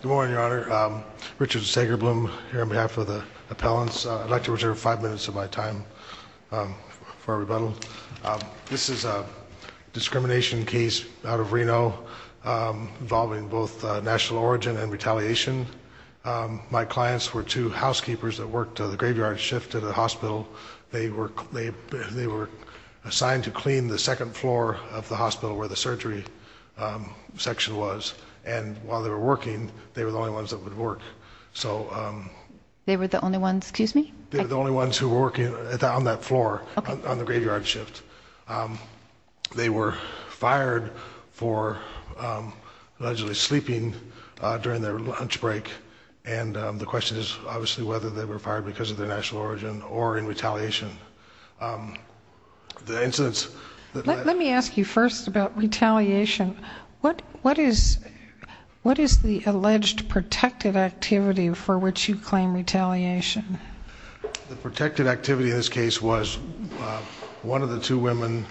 Good morning, Your Honor. Richard Sagerblum here on behalf of the appellants. I'd like to reserve five minutes of my time for a rebuttal. This is a discrimination case out of Reno involving both national origin and retaliation. My clients were two housekeepers that worked the graveyard shift at a hospital. They were assigned to clean the second floor of the hospital where the surgery section was. And while they were working, they were the only ones that would work. They were the only ones, excuse me? They were the only ones who were working on that floor on the graveyard shift. They were fired for allegedly sleeping during their lunch break. And the question is obviously whether they were fired because of their national origin or in retaliation. The incidents- Let me ask you first about retaliation. What is the alleged protected activity for which you claim retaliation? The protected activity in this case was one of the two women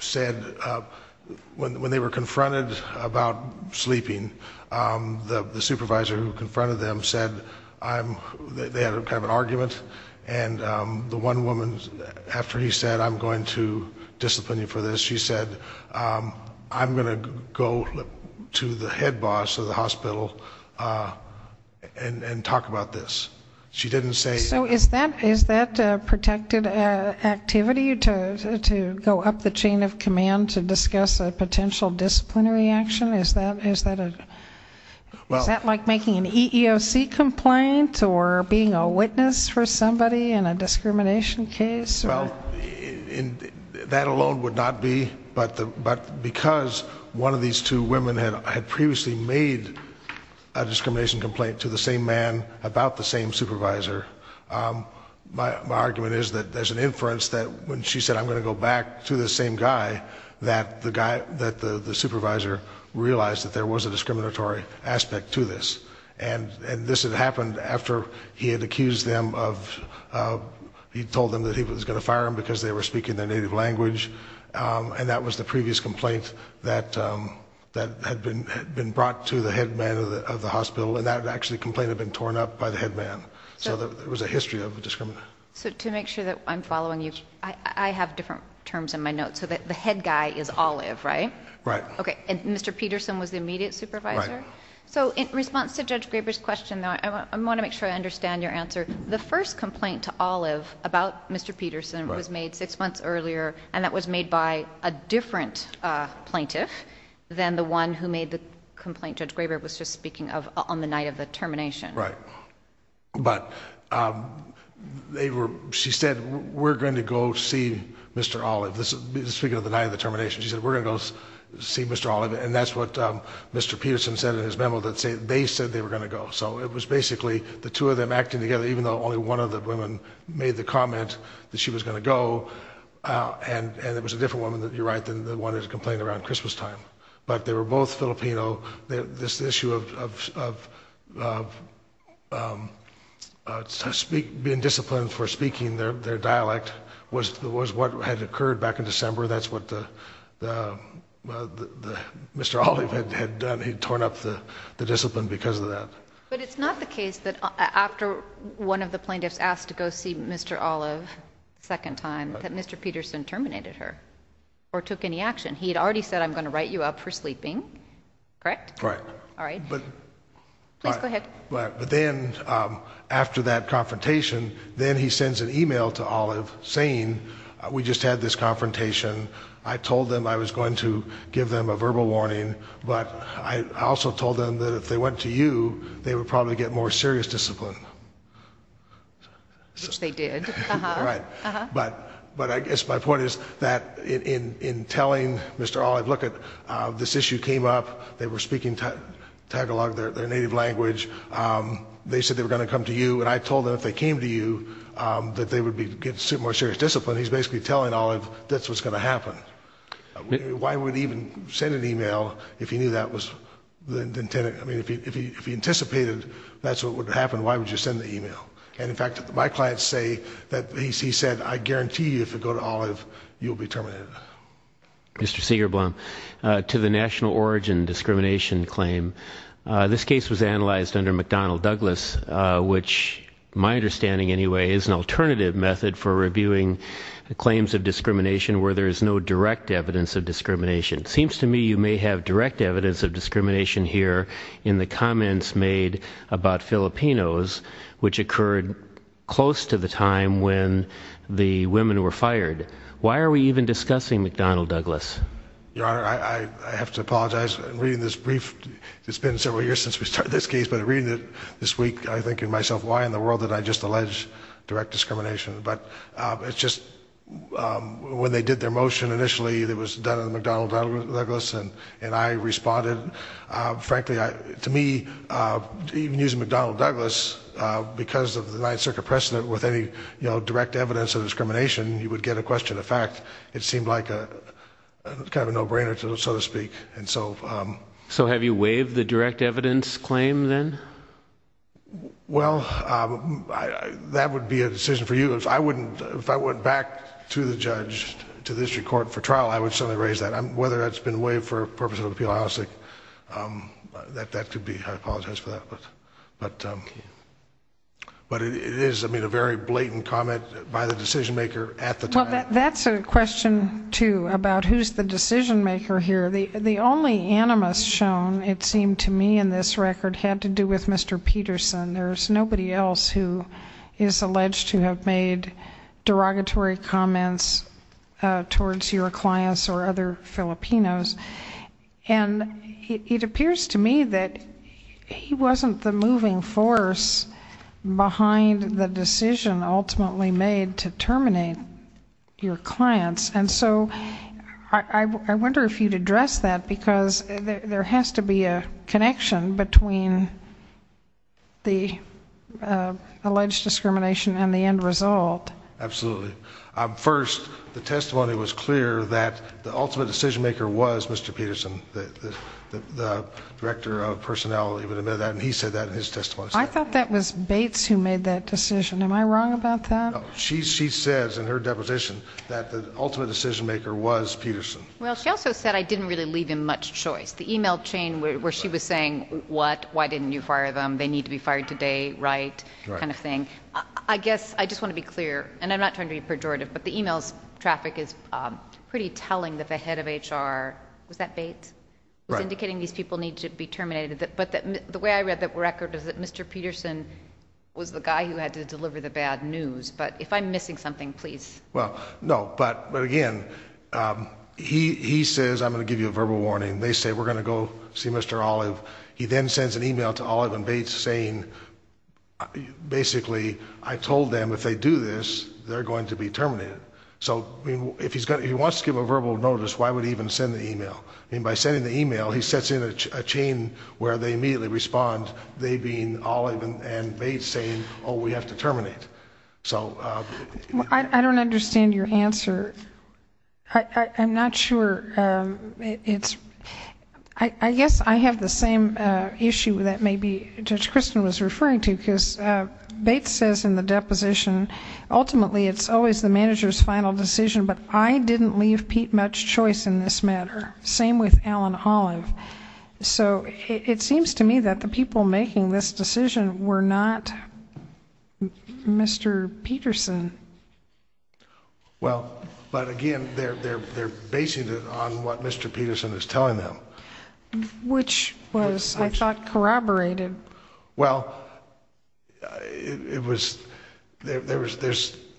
said when they were confronted about sleeping, the supervisor who confronted them said they had kind of an argument, and the one woman after he said I'm going to discipline you for this, she said I'm going to go to the head boss of the hospital and talk about this. She didn't say- So is that a protected activity to go up the chain of command to discuss a potential disciplinary action? Is that like making an EEOC complaint or being a witness for somebody in a discrimination case? Well, that alone would not be, but because one of these two women had previously made a discrimination complaint to the same man about the same supervisor, my argument is that there's an inference that when she said I'm going to go back to the same guy, that the supervisor realized that there was a discriminatory aspect to this, and this had happened after he had accused them of- he told them that he was going to fire them because they were speaking their native language, and that was the previous complaint that had been brought to the head man of the hospital, and that complaint had actually been torn up by the head man. So there was a history of discrimination. So to make sure that I'm following you, I have different terms in my notes. So the head guy is Olive, right? Right. Okay, and Mr. Peterson was the immediate supervisor? Right. So in response to Judge Graber's question, I want to make sure I understand your answer. The first complaint to Olive about Mr. Peterson was made six months earlier, and that was made by a different plaintiff than the one who made the complaint Judge Graber was just speaking of on the night of the termination. Right. But she said, we're going to go see Mr. Olive. Speaking of the night of the termination, she said, we're going to go see Mr. Olive, and that's what Mr. Peterson said in his memo that they said they were going to go. So it was basically the two of them acting together, even though only one of the women made the comment that she was going to go, and it was a different woman, you're right, than the one who complained around Christmas time. But they were both Filipino. This issue of being disciplined for speaking their dialect was what had occurred back in December. That's what Mr. Olive had done. He had torn up the discipline because of that. But it's not the case that after one of the plaintiffs asked to go see Mr. Olive a second time, that Mr. Peterson terminated her or took any action. He had already said, I'm going to write you up for sleeping, correct? Right. All right. Please go ahead. But then after that confrontation, then he sends an email to Olive saying, we just had this confrontation. I told them I was going to give them a verbal warning, but I also told them that if they went to you, they would probably get more serious discipline. Which they did. Right. But I guess my point is that in telling Mr. Olive, look, this issue came up, they were speaking Tagalog, their native language, they said they were going to come to you, and I told them if they came to you that they would get more serious discipline. He's basically telling Olive that's what's going to happen. Why would he even send an email if he knew that was the intent? I mean, if he anticipated that's what would happen, why would you send the email? And, in fact, my clients say that he said, I guarantee you if you go to Olive, you'll be terminated. Mr. Siegerblum, to the national origin discrimination claim, this case was analyzed under McDonnell-Douglas, which my understanding anyway is an alternative method for reviewing claims of discrimination where there is no direct evidence of discrimination. It seems to me you may have direct evidence of discrimination here in the comments made about Filipinos, which occurred close to the time when the women were fired. Why are we even discussing McDonnell-Douglas? Your Honor, I have to apologize. Reading this brief, it's been several years since we started this case, but reading it this week, I think to myself, why in the world did I just allege direct discrimination? But it's just, when they did their motion initially, it was done under McDonnell-Douglas, and I responded. Frankly, to me, even using McDonnell-Douglas, because of the Ninth Circuit precedent, with any direct evidence of discrimination, you would get a question of fact. It seemed like kind of a no-brainer, so to speak. So have you waived the direct evidence claim then? Well, that would be a decision for you. If I went back to the judge, to the district court for trial, I would certainly raise that. Whether that's been waived for purposes of appeal, I don't think that could be. I apologize for that. But it is, I mean, a very blatant comment by the decision-maker at the time. Well, that's a question, too, about who's the decision-maker here. The only animus shown, it seemed to me in this record, had to do with Mr. Peterson. There's nobody else who is alleged to have made derogatory comments towards your clients or other Filipinos. And it appears to me that he wasn't the moving force behind the decision ultimately made to terminate your clients. And so I wonder if you'd address that, because there has to be a connection between the alleged discrimination and the end result. Absolutely. First, the testimony was clear that the ultimate decision-maker was Mr. Peterson. The Director of Personnel even admitted that, and he said that in his testimony. I thought that was Bates who made that decision. Am I wrong about that? No, she says in her deposition that the ultimate decision-maker was Peterson. Well, she also said I didn't really leave him much choice. The e-mail chain where she was saying, what, why didn't you fire them, they need to be fired today, right, kind of thing. I guess I just want to be clear, and I'm not trying to be pejorative, but the e-mail's traffic is pretty telling that the head of HR, was that Bates? Right. I'm not indicating these people need to be terminated, but the way I read that record is that Mr. Peterson was the guy who had to deliver the bad news. But if I'm missing something, please. Well, no, but again, he says, I'm going to give you a verbal warning. They say, we're going to go see Mr. Olive. He then sends an e-mail to Olive and Bates saying, basically, I told them if they do this, they're going to be terminated. So if he wants to give a verbal notice, why would he even send the e-mail? I mean, by sending the e-mail, he sets in a chain where they immediately respond, they being Olive and Bates saying, oh, we have to terminate. I don't understand your answer. I'm not sure. I guess I have the same issue that maybe Judge Kristen was referring to, because Bates says in the deposition, ultimately, it's always the manager's final decision, but I didn't leave Pete much choice in this matter. Same with Alan Olive. So it seems to me that the people making this decision were not Mr. Peterson. Well, but again, they're basing it on what Mr. Peterson is telling them. Which was, I thought, corroborated. Well,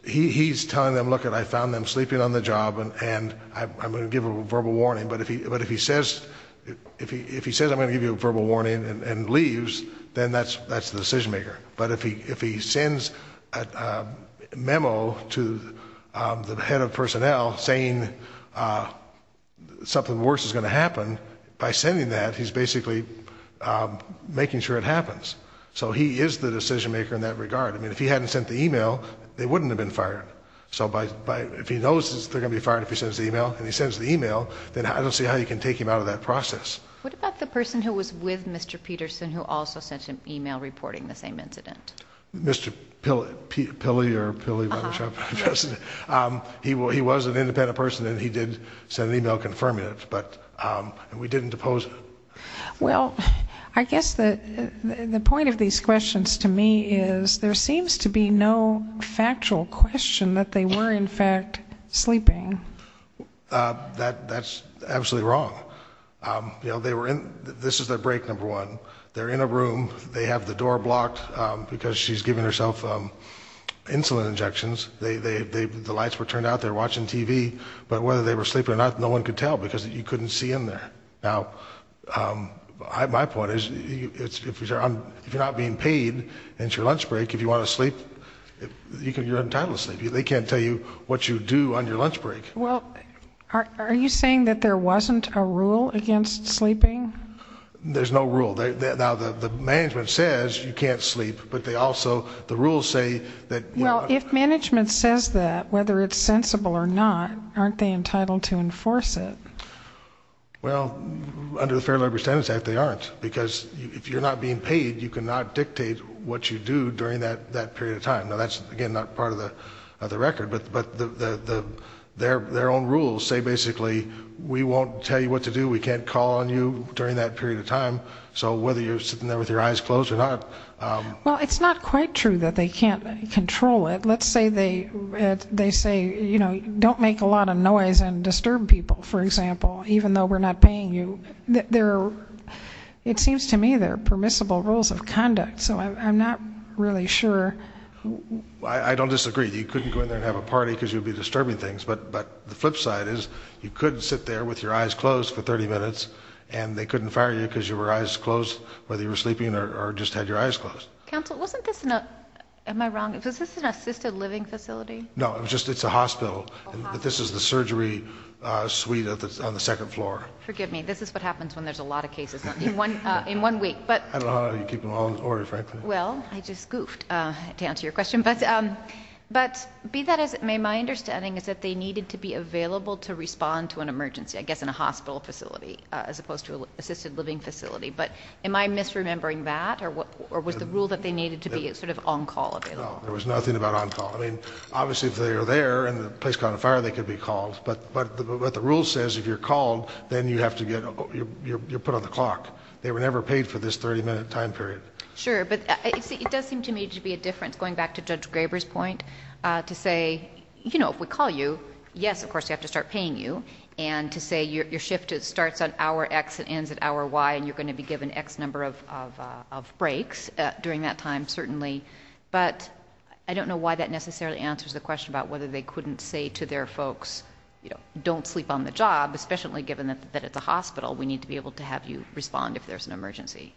he's telling them, look, I found them sleeping on the job, and I'm going to give a verbal warning. But if he says I'm going to give you a verbal warning and leaves, then that's the decision maker. But if he sends a memo to the head of personnel saying something worse is going to happen, by sending that, he's basically making sure it happens. So he is the decision maker in that regard. I mean, if he hadn't sent the e-mail, they wouldn't have been fired. So if he knows they're going to be fired if he sends the e-mail, and he sends the e-mail, then I don't see how you can take him out of that process. What about the person who was with Mr. Peterson who also sent an e-mail reporting the same incident? Mr. Pilley or Pilley? He was an independent person, and he did send an e-mail confirming it. And we didn't depose him. Well, I guess the point of these questions to me is there seems to be no factual question that they were, in fact, sleeping. That's absolutely wrong. This is their break, number one. They're in a room. They have the door blocked because she's giving herself insulin injections. The lights were turned out. They were watching TV. But whether they were sleeping or not, no one could tell because you couldn't see in there. Now, my point is if you're not being paid and it's your lunch break, if you want to sleep, you're entitled to sleep. They can't tell you what you do on your lunch break. Well, are you saying that there wasn't a rule against sleeping? There's no rule. Now, the management says you can't sleep, but they also, the rules say that, you know. Aren't they entitled to enforce it? Well, under the Fair Labor Standards Act, they aren't. Because if you're not being paid, you cannot dictate what you do during that period of time. Now, that's, again, not part of the record. But their own rules say basically we won't tell you what to do, we can't call on you during that period of time. So whether you're sitting there with your eyes closed or not. Well, it's not quite true that they can't control it. Well, let's say they say, you know, don't make a lot of noise and disturb people, for example, even though we're not paying you. It seems to me there are permissible rules of conduct. So I'm not really sure. I don't disagree. You couldn't go in there and have a party because you'd be disturbing things. But the flip side is you couldn't sit there with your eyes closed for 30 minutes, and they couldn't fire you because you were eyes closed whether you were sleeping or just had your eyes closed. Counsel, wasn't this an, am I wrong? Was this an assisted living facility? No, it's a hospital. This is the surgery suite on the second floor. Forgive me. This is what happens when there's a lot of cases in one week. I don't know how you keep them all in order, frankly. Well, I just goofed, to answer your question. But be that as it may, my understanding is that they needed to be available to respond to an emergency, I guess in a hospital facility as opposed to an assisted living facility. But am I misremembering that? Or was the rule that they needed to be sort of on call available? No. There was nothing about on call. I mean, obviously if they were there and the place caught on fire, they could be called. But what the rule says, if you're called, then you have to get... you're put on the clock. They were never paid for this 30-minute time period. Sure. But it does seem to me to be a difference, going back to Judge Graber's point, to say, you know, if we call you, yes, of course we have to start paying you. And to say your shift starts at hour X and ends at hour Y, and you're going to be given X number of breaks during that time, certainly. But I don't know why that necessarily answers the question about whether they couldn't say to their folks, you know, don't sleep on the job, especially given that it's a hospital. We need to be able to have you respond if there's an emergency.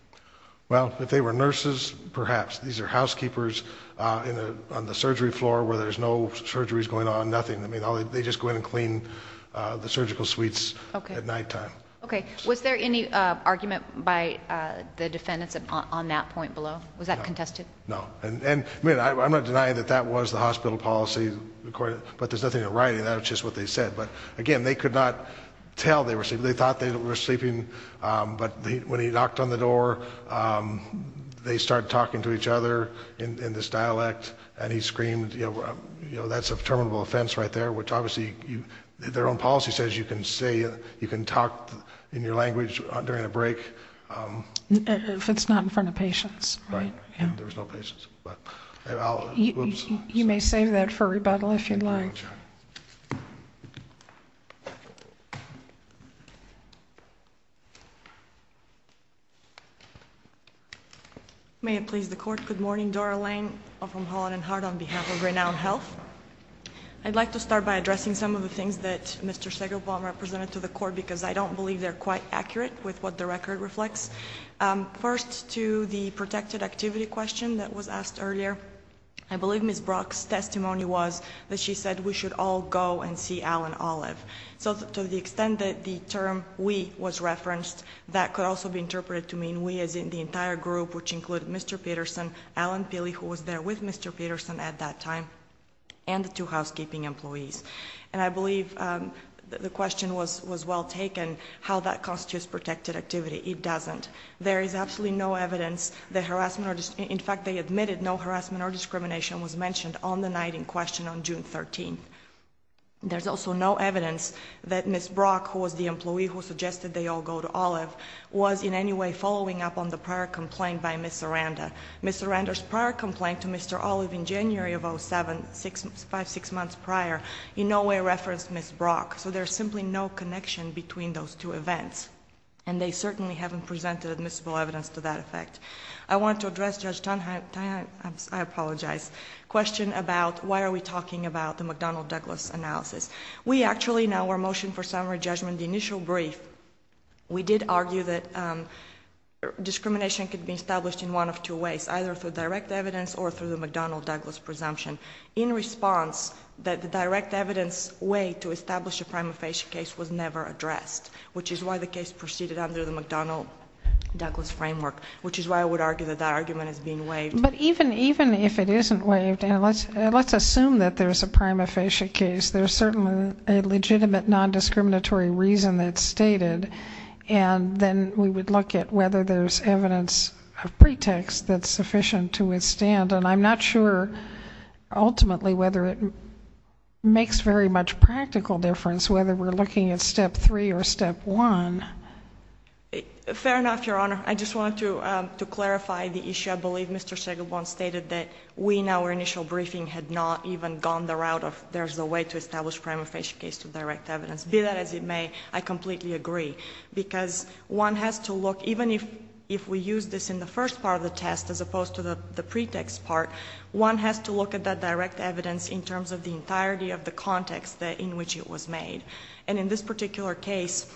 Well, if they were nurses, perhaps. These are housekeepers on the surgery floor where there's no surgeries going on, nothing. I mean, they just go in and clean the surgical suites at nighttime. Okay. Was there any argument by the defendants on that point below? Was that contested? No. And I'm not denying that that was the hospital policy, but there's nothing in the writing. That was just what they said. But, again, they could not tell they were sleeping. They thought they were sleeping, but when he knocked on the door, they started talking to each other in this dialect, and he screamed, you know, that's a terminable offense right there, which obviously their own policy says you can talk in your language during a break. If it's not in front of patients. Right. There was no patients. You may save that for rebuttal if you'd like. May it please the Court. Good morning, Dora Lane. I'm from Holland and Hart on behalf of Renown Health. I'd like to start by addressing some of the things that Mr. Segelbaum represented to the Court because I don't believe they're quite accurate with what the record reflects. First, to the protected activity question that was asked earlier, I believe Ms. Brock's testimony was that she said we should all go and see Al and Olive. So to the extent that the term we was referenced, that could also be interpreted to mean we as in the entire group, which included Mr. Peterson, Al and Pilly, who was there with Mr. Peterson at that time, and the two housekeeping employees. And I believe the question was well taken, how that constitutes protected activity. It doesn't. There is absolutely no evidence that harassment or, in fact, they admitted no harassment or discrimination was mentioned on the night in question on June 13th. There's also no evidence that Ms. Brock, who was the employee who suggested they all go to Olive, was in any way following up on the prior complaint by Ms. Saranda. Ms. Saranda's prior complaint to Mr. Olive in January of 07, five, six months prior, in no way referenced Ms. Brock. So there's simply no connection between those two events. And they certainly haven't presented admissible evidence to that effect. I want to address Judge Tonheim's, I apologize, question about why are we talking about the McDonnell-Douglas analysis. We actually, in our motion for summary judgment, the initial brief, we did argue that discrimination could be established in one of two ways, either through direct evidence or through the McDonnell-Douglas presumption. In response, that the direct evidence way to establish a prima facie case was never addressed, which is why the case proceeded under the McDonnell-Douglas framework, which is why I would argue that that argument is being waived. But even if it isn't waived, and let's assume that there's a prima facie case, there's certainly a legitimate nondiscriminatory reason that's stated, and then we would look at whether there's evidence of pretext that's sufficient to withstand. And I'm not sure ultimately whether it makes very much practical difference whether we're looking at step three or step one. Fair enough, Your Honor. I just wanted to clarify the issue. I believe Mr. Segelborn stated that we, in our initial briefing, had not even gone the route of there's a way to establish a prima facie case through direct evidence. Be that as it may, I completely agree, because one has to look, even if we use this in the first part of the test as opposed to the pretext part, one has to look at that direct evidence in terms of the entirety of the context in which it was made. And in this particular case,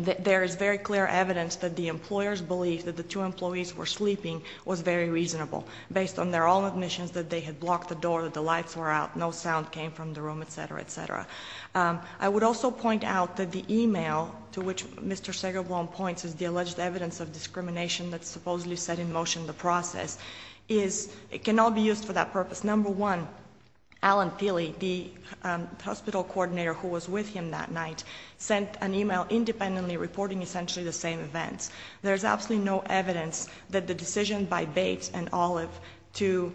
there is very clear evidence that the employers believed that the two employees were sleeping was very reasonable, based on their own admissions that they had blocked the door, that the lights were out, no sound came from the room, etc., etc. I would also point out that the email to which Mr. Segelborn points is the alleged evidence of discrimination that's supposedly set in motion in the process, can all be used for that purpose. Because number one, Alan Peely, the hospital coordinator who was with him that night, sent an email independently reporting essentially the same events. There's absolutely no evidence that the decision by Bates and Olive to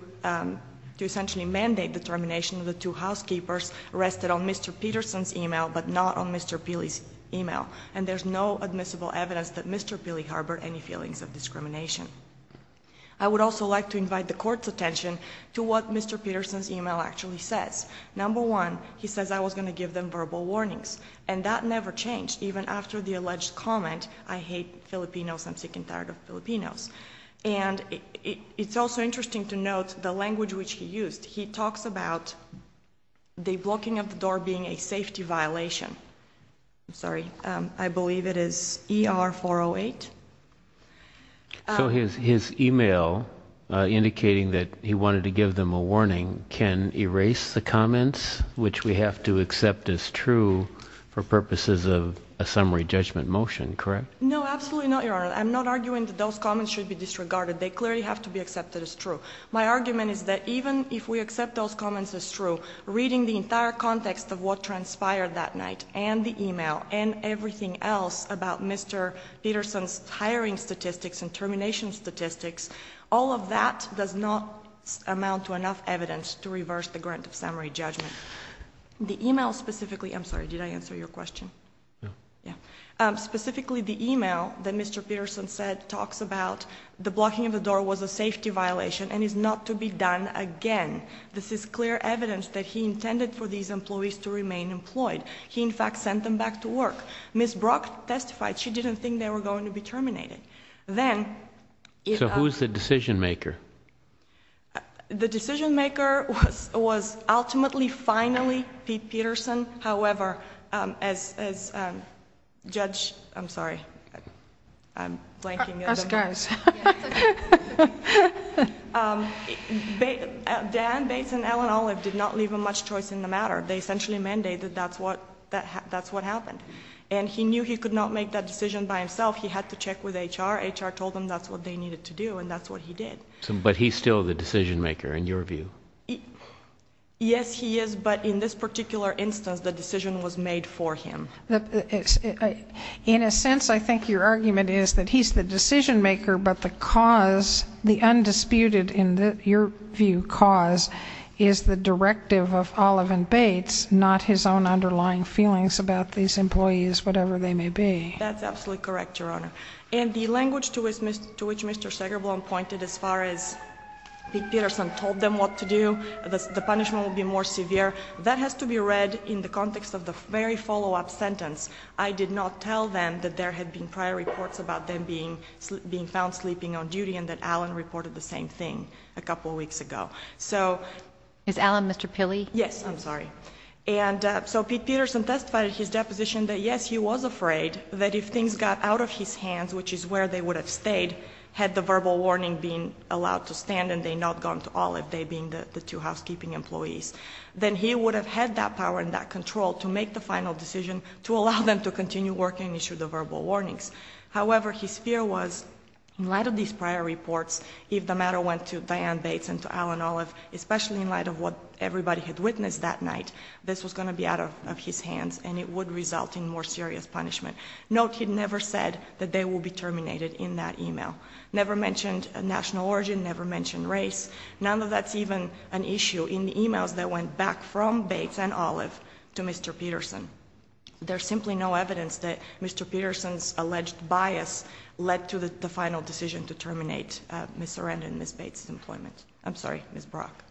essentially mandate the termination of the two housekeepers rested on Mr. Peterson's email, but not on Mr. Peely's email. And there's no admissible evidence that Mr. Peely harbored any feelings of discrimination. I would also like to invite the court's attention to what Mr. Peterson's email actually says. Number one, he says, I was going to give them verbal warnings. And that never changed, even after the alleged comment, I hate Filipinos, I'm sick and tired of Filipinos. And it's also interesting to note the language which he used. He talks about the blocking of the door being a safety violation. I'm sorry, I believe it is ER-408. So his email indicating that he wanted to give them a warning can erase the comments, which we have to accept as true for purposes of a summary judgment motion, correct? No, absolutely not, Your Honor. I'm not arguing that those comments should be disregarded. They clearly have to be accepted as true. My argument is that even if we accept those comments as true, reading the entire context of what transpired that night, and the email, and everything else about Mr. Peterson's hiring statistics and termination statistics, all of that does not amount to enough evidence to reverse the grant of summary judgment. The email specifically, I'm sorry, did I answer your question? No. Specifically, the email that Mr. Peterson said talks about the blocking of the door was a safety violation and is not to be done again. This is clear evidence that he intended for these employees to remain employed. He, in fact, sent them back to work. Ms. Brock testified she didn't think they were going to be terminated. Then... So who is the decision maker? The decision maker was ultimately, finally, Pete Peterson. However, as Judge... I'm sorry, I'm blanking. Us guys. Diane Bates and Ellen Olive did not leave much choice in the matter. They essentially mandated that's what happened. And he knew he could not make that decision by himself. He had to check with HR. HR told them that's what they needed to do, and that's what he did. But he's still the decision maker, in your view? Yes, he is, but in this particular instance, the decision was made for him. In a sense, I think your argument is that he's the decision maker, but the cause, the undisputed, in your view, cause is the directive of Olive and Bates, not his own underlying feelings about these employees, whatever they may be. That's absolutely correct, Your Honor. And the language to which Mr. Segerblom pointed as far as Pete Peterson told them what to do, the punishment will be more severe, that has to be read in the context of the very follow-up sentence. I did not tell them that there had been prior reports about them being found sleeping on duty and that Allen reported the same thing a couple of weeks ago. Is Allen Mr. Pilley? Yes, I'm sorry. So Pete Peterson testified in his deposition that, yes, he was afraid that if things got out of his hands, which is where they would have stayed had the verbal warning been allowed to stand and they not gone to Olive, they being the two housekeeping employees, then he would have had that power and that control to make the final decision to allow them to continue working and issue the verbal warnings. However, his fear was in light of these prior reports, if the matter went to Diane Bates and to Allen Olive, especially in light of what everybody had witnessed that night, this was going to be out of his hands and it would result in more serious punishment. Note he never said that they would be terminated in that email. Never mentioned national origin, never mentioned race. None of that's even an issue in the emails that went back from Bates and Olive to Mr. Peterson. There's simply no evidence that Mr. Peterson's alleged bias led to the final decision to terminate Ms. Sarandon and Ms. Bates' employment. I'm sorry, Ms. Brock.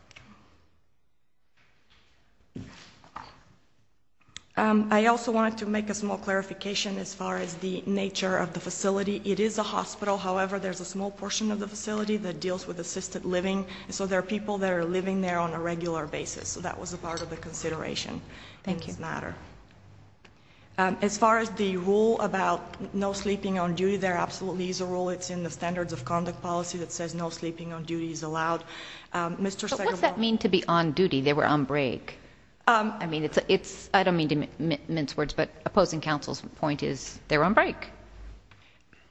I also wanted to make a small clarification as far as the nature of the facility. It is a hospital. However, there's a small portion of the facility that deals with assisted living. So there are people that are living there on a regular basis. So that was a part of the consideration in this matter. As far as the rule about no sleeping on duty, there absolutely is a rule. It's in the standards of conduct policy that says no sleeping on duty is allowed. But what's that mean to be on duty? They were on break. I don't mean to mince words, but opposing counsel's point is they're on break.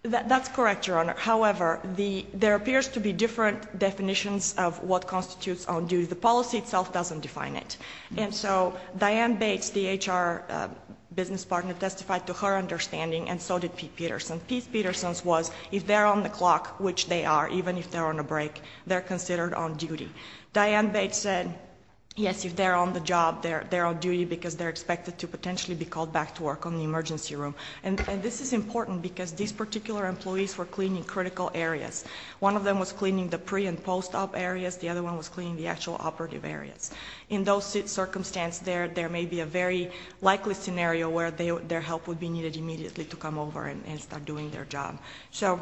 That's correct, Your Honor. However, there appears to be different definitions of what constitutes on duty. The policy itself doesn't define it. And so Diane Bates, the HR business partner, testified to her understanding, and so did Pete Peterson. Pete Peterson's was if they're on the clock, which they are, even if they're on a break, they're considered on duty. Diane Bates said, yes, if they're on the job, they're on duty because they're expected to potentially be called back to work on the emergency room. And this is important because these particular employees were cleaning critical areas. One of them was cleaning the pre- and post-op areas. The other one was cleaning the actual operative areas. In those circumstances, there may be a very likely scenario where their help would be needed immediately to come over and start doing their job. So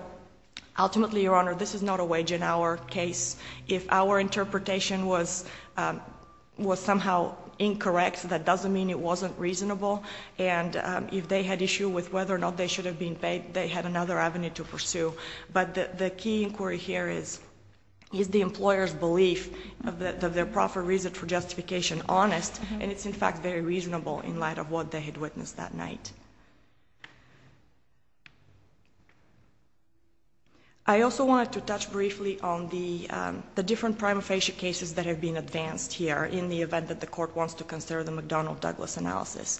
ultimately, Your Honor, this is not a wage. In our case, if our interpretation was somehow incorrect, that doesn't mean it wasn't reasonable. And if they had issue with whether or not they should have been paid, they had another avenue to pursue. But the key inquiry here is, is the employer's belief of their proper reason for justification honest? And it's, in fact, very reasonable in light of what they had witnessed that night. I also wanted to touch briefly on the different prima facie cases that have been advanced here, in the event that the Court wants to consider the McDonnell-Douglas analysis.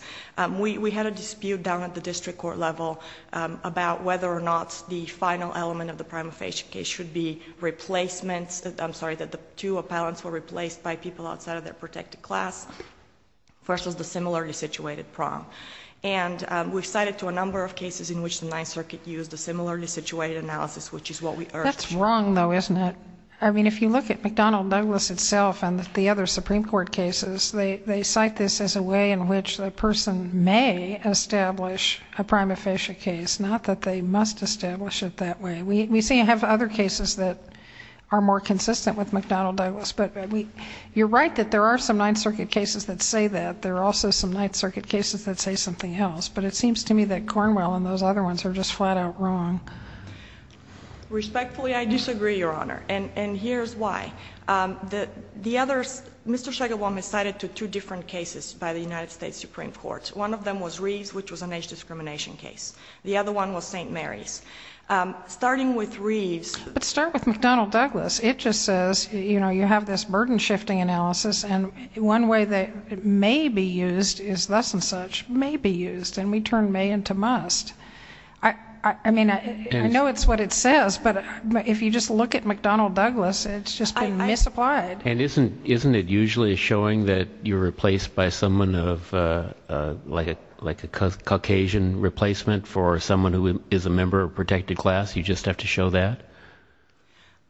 We had a dispute down at the district court level about whether or not the final element of the prima facie case should be replacements. I'm sorry, that the two appellants were replaced by people outside of their protected class versus the similarly situated prom. And we've cited to a number of cases in which the Ninth Circuit used a similarly situated analysis, which is what we urge. That's wrong, though, isn't it? I mean, if you look at McDonnell-Douglas itself and the other Supreme Court cases, they cite this as a way in which a person may establish a prima facie case, not that they must establish it that way. We have other cases that are more consistent with McDonnell-Douglas. But you're right that there are some Ninth Circuit cases that say that. There are also some Ninth Circuit cases that say something else. But it seems to me that Cornwell and those other ones are just flat out wrong. Respectfully, I disagree, Your Honor. And here's why. The others, Mr. Shagelbaum has cited to two different cases by the United States Supreme Court. One of them was Reeves, which was an age discrimination case. The other one was St. Mary's. Starting with Reeves. But start with McDonnell-Douglas. It just says, you know, you have this burden-shifting analysis, and one way that it may be used is thus and such may be used, and we turn may into must. I mean, I know it's what it says, but if you just look at McDonnell-Douglas, it's just been misapplied. And isn't it usually showing that you're replaced by someone of like a Caucasian replacement for someone who is a member of a protected class? You just have to show that?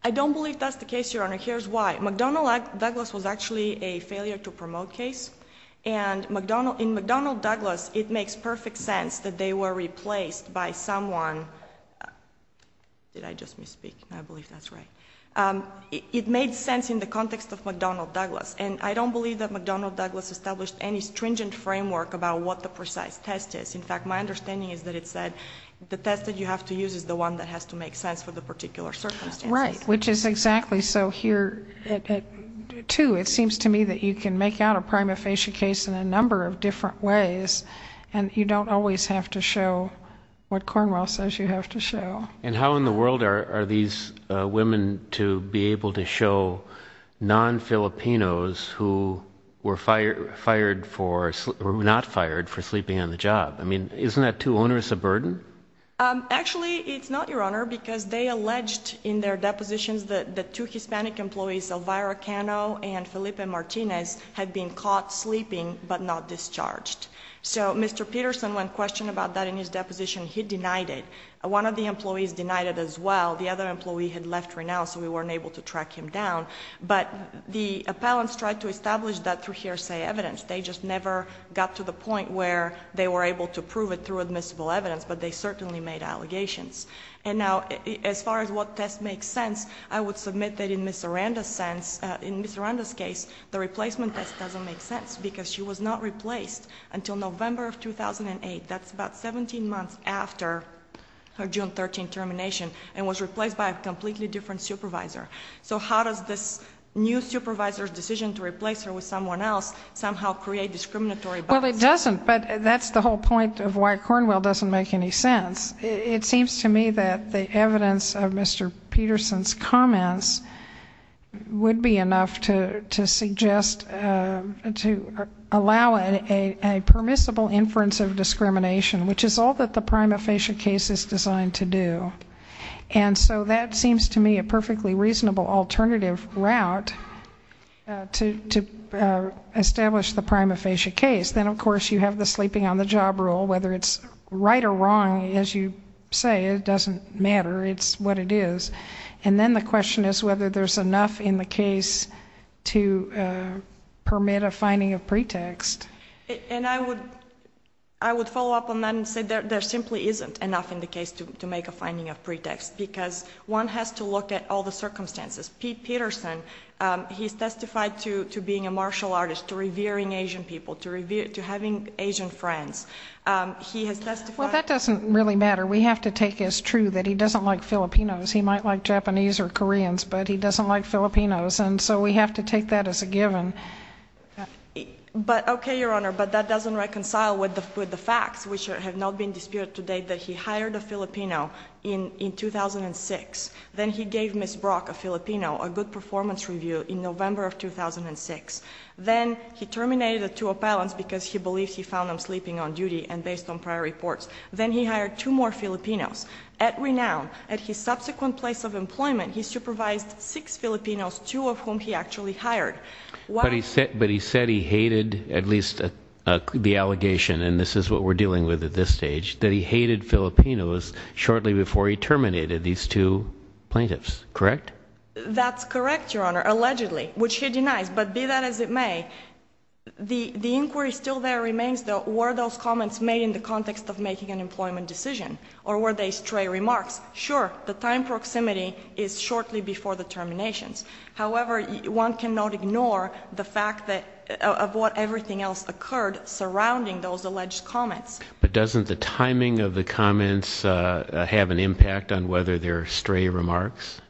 I don't believe that's the case, Your Honor. Here's why. McDonnell-Douglas was actually a failure-to-promote case, and in McDonnell-Douglas it makes perfect sense that they were replaced by someone. Did I just misspeak? I believe that's right. It made sense in the context of McDonnell-Douglas, and I don't believe that McDonnell-Douglas established any stringent framework about what the precise test is. In fact, my understanding is that it said the test that you have to use is the one that has to make sense for the particular circumstances. Right, which is exactly so here too. It seems to me that you can make out a prima facie case in a number of different ways, and you don't always have to show what Cornwell says you have to show. And how in the world are these women to be able to show non-Filipinos who were not fired for sleeping on the job? I mean, isn't that too onerous a burden? Actually, it's not, Your Honor, because they alleged in their depositions that two Hispanic employees, Alvaro Cano and Felipe Martinez, had been caught sleeping but not discharged. So Mr. Peterson, when questioned about that in his deposition, he denied it. One of the employees denied it as well. The other employee had left right now, so we weren't able to track him down. But the appellants tried to establish that through hearsay evidence. They just never got to the point where they were able to prove it through admissible evidence, but they certainly made allegations. And now, as far as what test makes sense, I would submit that in Ms. Aranda's case, the replacement test doesn't make sense because she was not replaced until November of 2008. That's about 17 months after her June 13 termination and was replaced by a completely different supervisor. So how does this new supervisor's decision to replace her with someone else somehow create discriminatory bias? Well, it doesn't, but that's the whole point of why Cornwell doesn't make any sense. It seems to me that the evidence of Mr. Peterson's comments would be enough to suggest to allow a permissible inference of discrimination, which is all that the prima facie case is designed to do. And so that seems to me a perfectly reasonable alternative route to establish the prima facie case. Then, of course, you have the sleeping on the job rule. Whether it's right or wrong, as you say, it doesn't matter. It's what it is. And then the question is whether there's enough in the case to permit a finding of pretext. And I would follow up on that and say there simply isn't enough in the case to make a finding of pretext because one has to look at all the circumstances. Pete Peterson, he's testified to being a martial artist, to revering Asian people, to having Asian friends. He has testified... Well, that doesn't really matter. We have to take as true that he doesn't like Filipinos. He might like Japanese or Koreans, but he doesn't like Filipinos, and so we have to take that as a given. But, okay, Your Honor, but that doesn't reconcile with the facts, which have not been disputed to date, that he hired a Filipino in 2006. Then he gave Ms. Brock, a Filipino, a good performance review in November of 2006. Then he terminated the two appellants because he believed he found them sleeping on duty and based on prior reports. Then he hired two more Filipinos. At Renown, at his subsequent place of employment, he supervised six Filipinos, two of whom he actually hired. But he said he hated, at least the allegation, and this is what we're dealing with at this stage, that he hated Filipinos shortly before he terminated these two plaintiffs, correct? That's correct, Your Honor, allegedly, which he denies, but be that as it may, the inquiry still there remains were those comments made in the context of making an employment decision, or were they stray remarks? Sure, the time proximity is shortly before the terminations. However, one cannot ignore the fact of what everything else occurred surrounding those alleged comments. But doesn't the timing of the comments have an impact on whether they're stray remarks?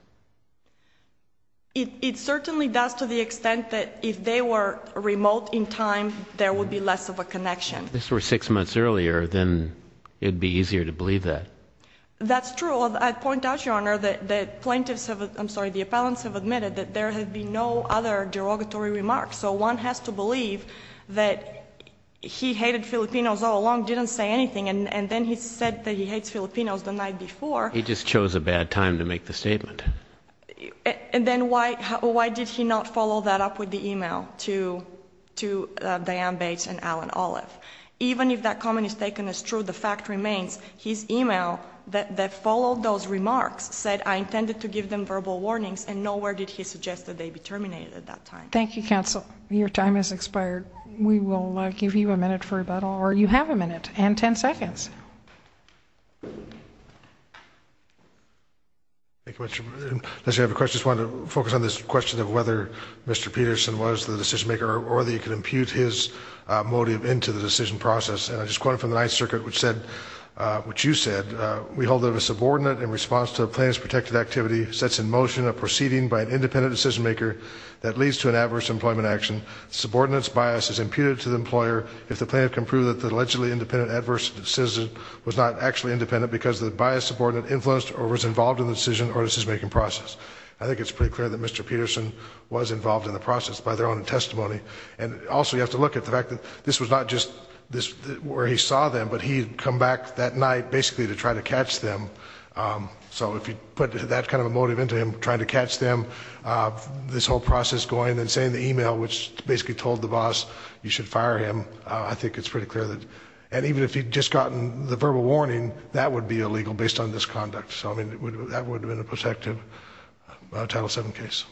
It certainly does to the extent that if they were remote in time, there would be less of a connection. If this were six months earlier, then it would be easier to believe that. That's true. I'd point out, Your Honor, that plaintiffs have, I'm sorry, the appellants have admitted that there have been no other derogatory remarks. So one has to believe that he hated Filipinos all along, didn't say anything, and then he said that he hates Filipinos the night before. He just chose a bad time to make the statement. And then why did he not follow that up with the email to Diane Bates and Alan Olive? Even if that comment is taken as true, the fact remains, his email that followed those remarks said, I intended to give them verbal warnings, and nowhere did he suggest that they be terminated at that time. Thank you, counsel. Your time has expired. We will give you a minute for rebuttal, or you have a minute and ten seconds. Thank you, Mr. President. I think it's pretty clear that Mr. Peterson was involved in the process by their own testimony, and also you have to look at the fact that this was not just where he saw them, but he had come back that night basically to try to catch them. So if you put that kind of a motive into him, trying to catch them, this whole process going, and saying in the email which basically told the boss you should fire him, I think it's pretty clear that, and even if he had just gotten the verbal warning, that would be illegal based on this conduct. So, I mean, that would have been a protective Title VII case.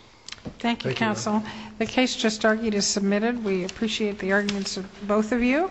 Thank you, counsel. The case just argued is submitted. We appreciate the arguments of both of you.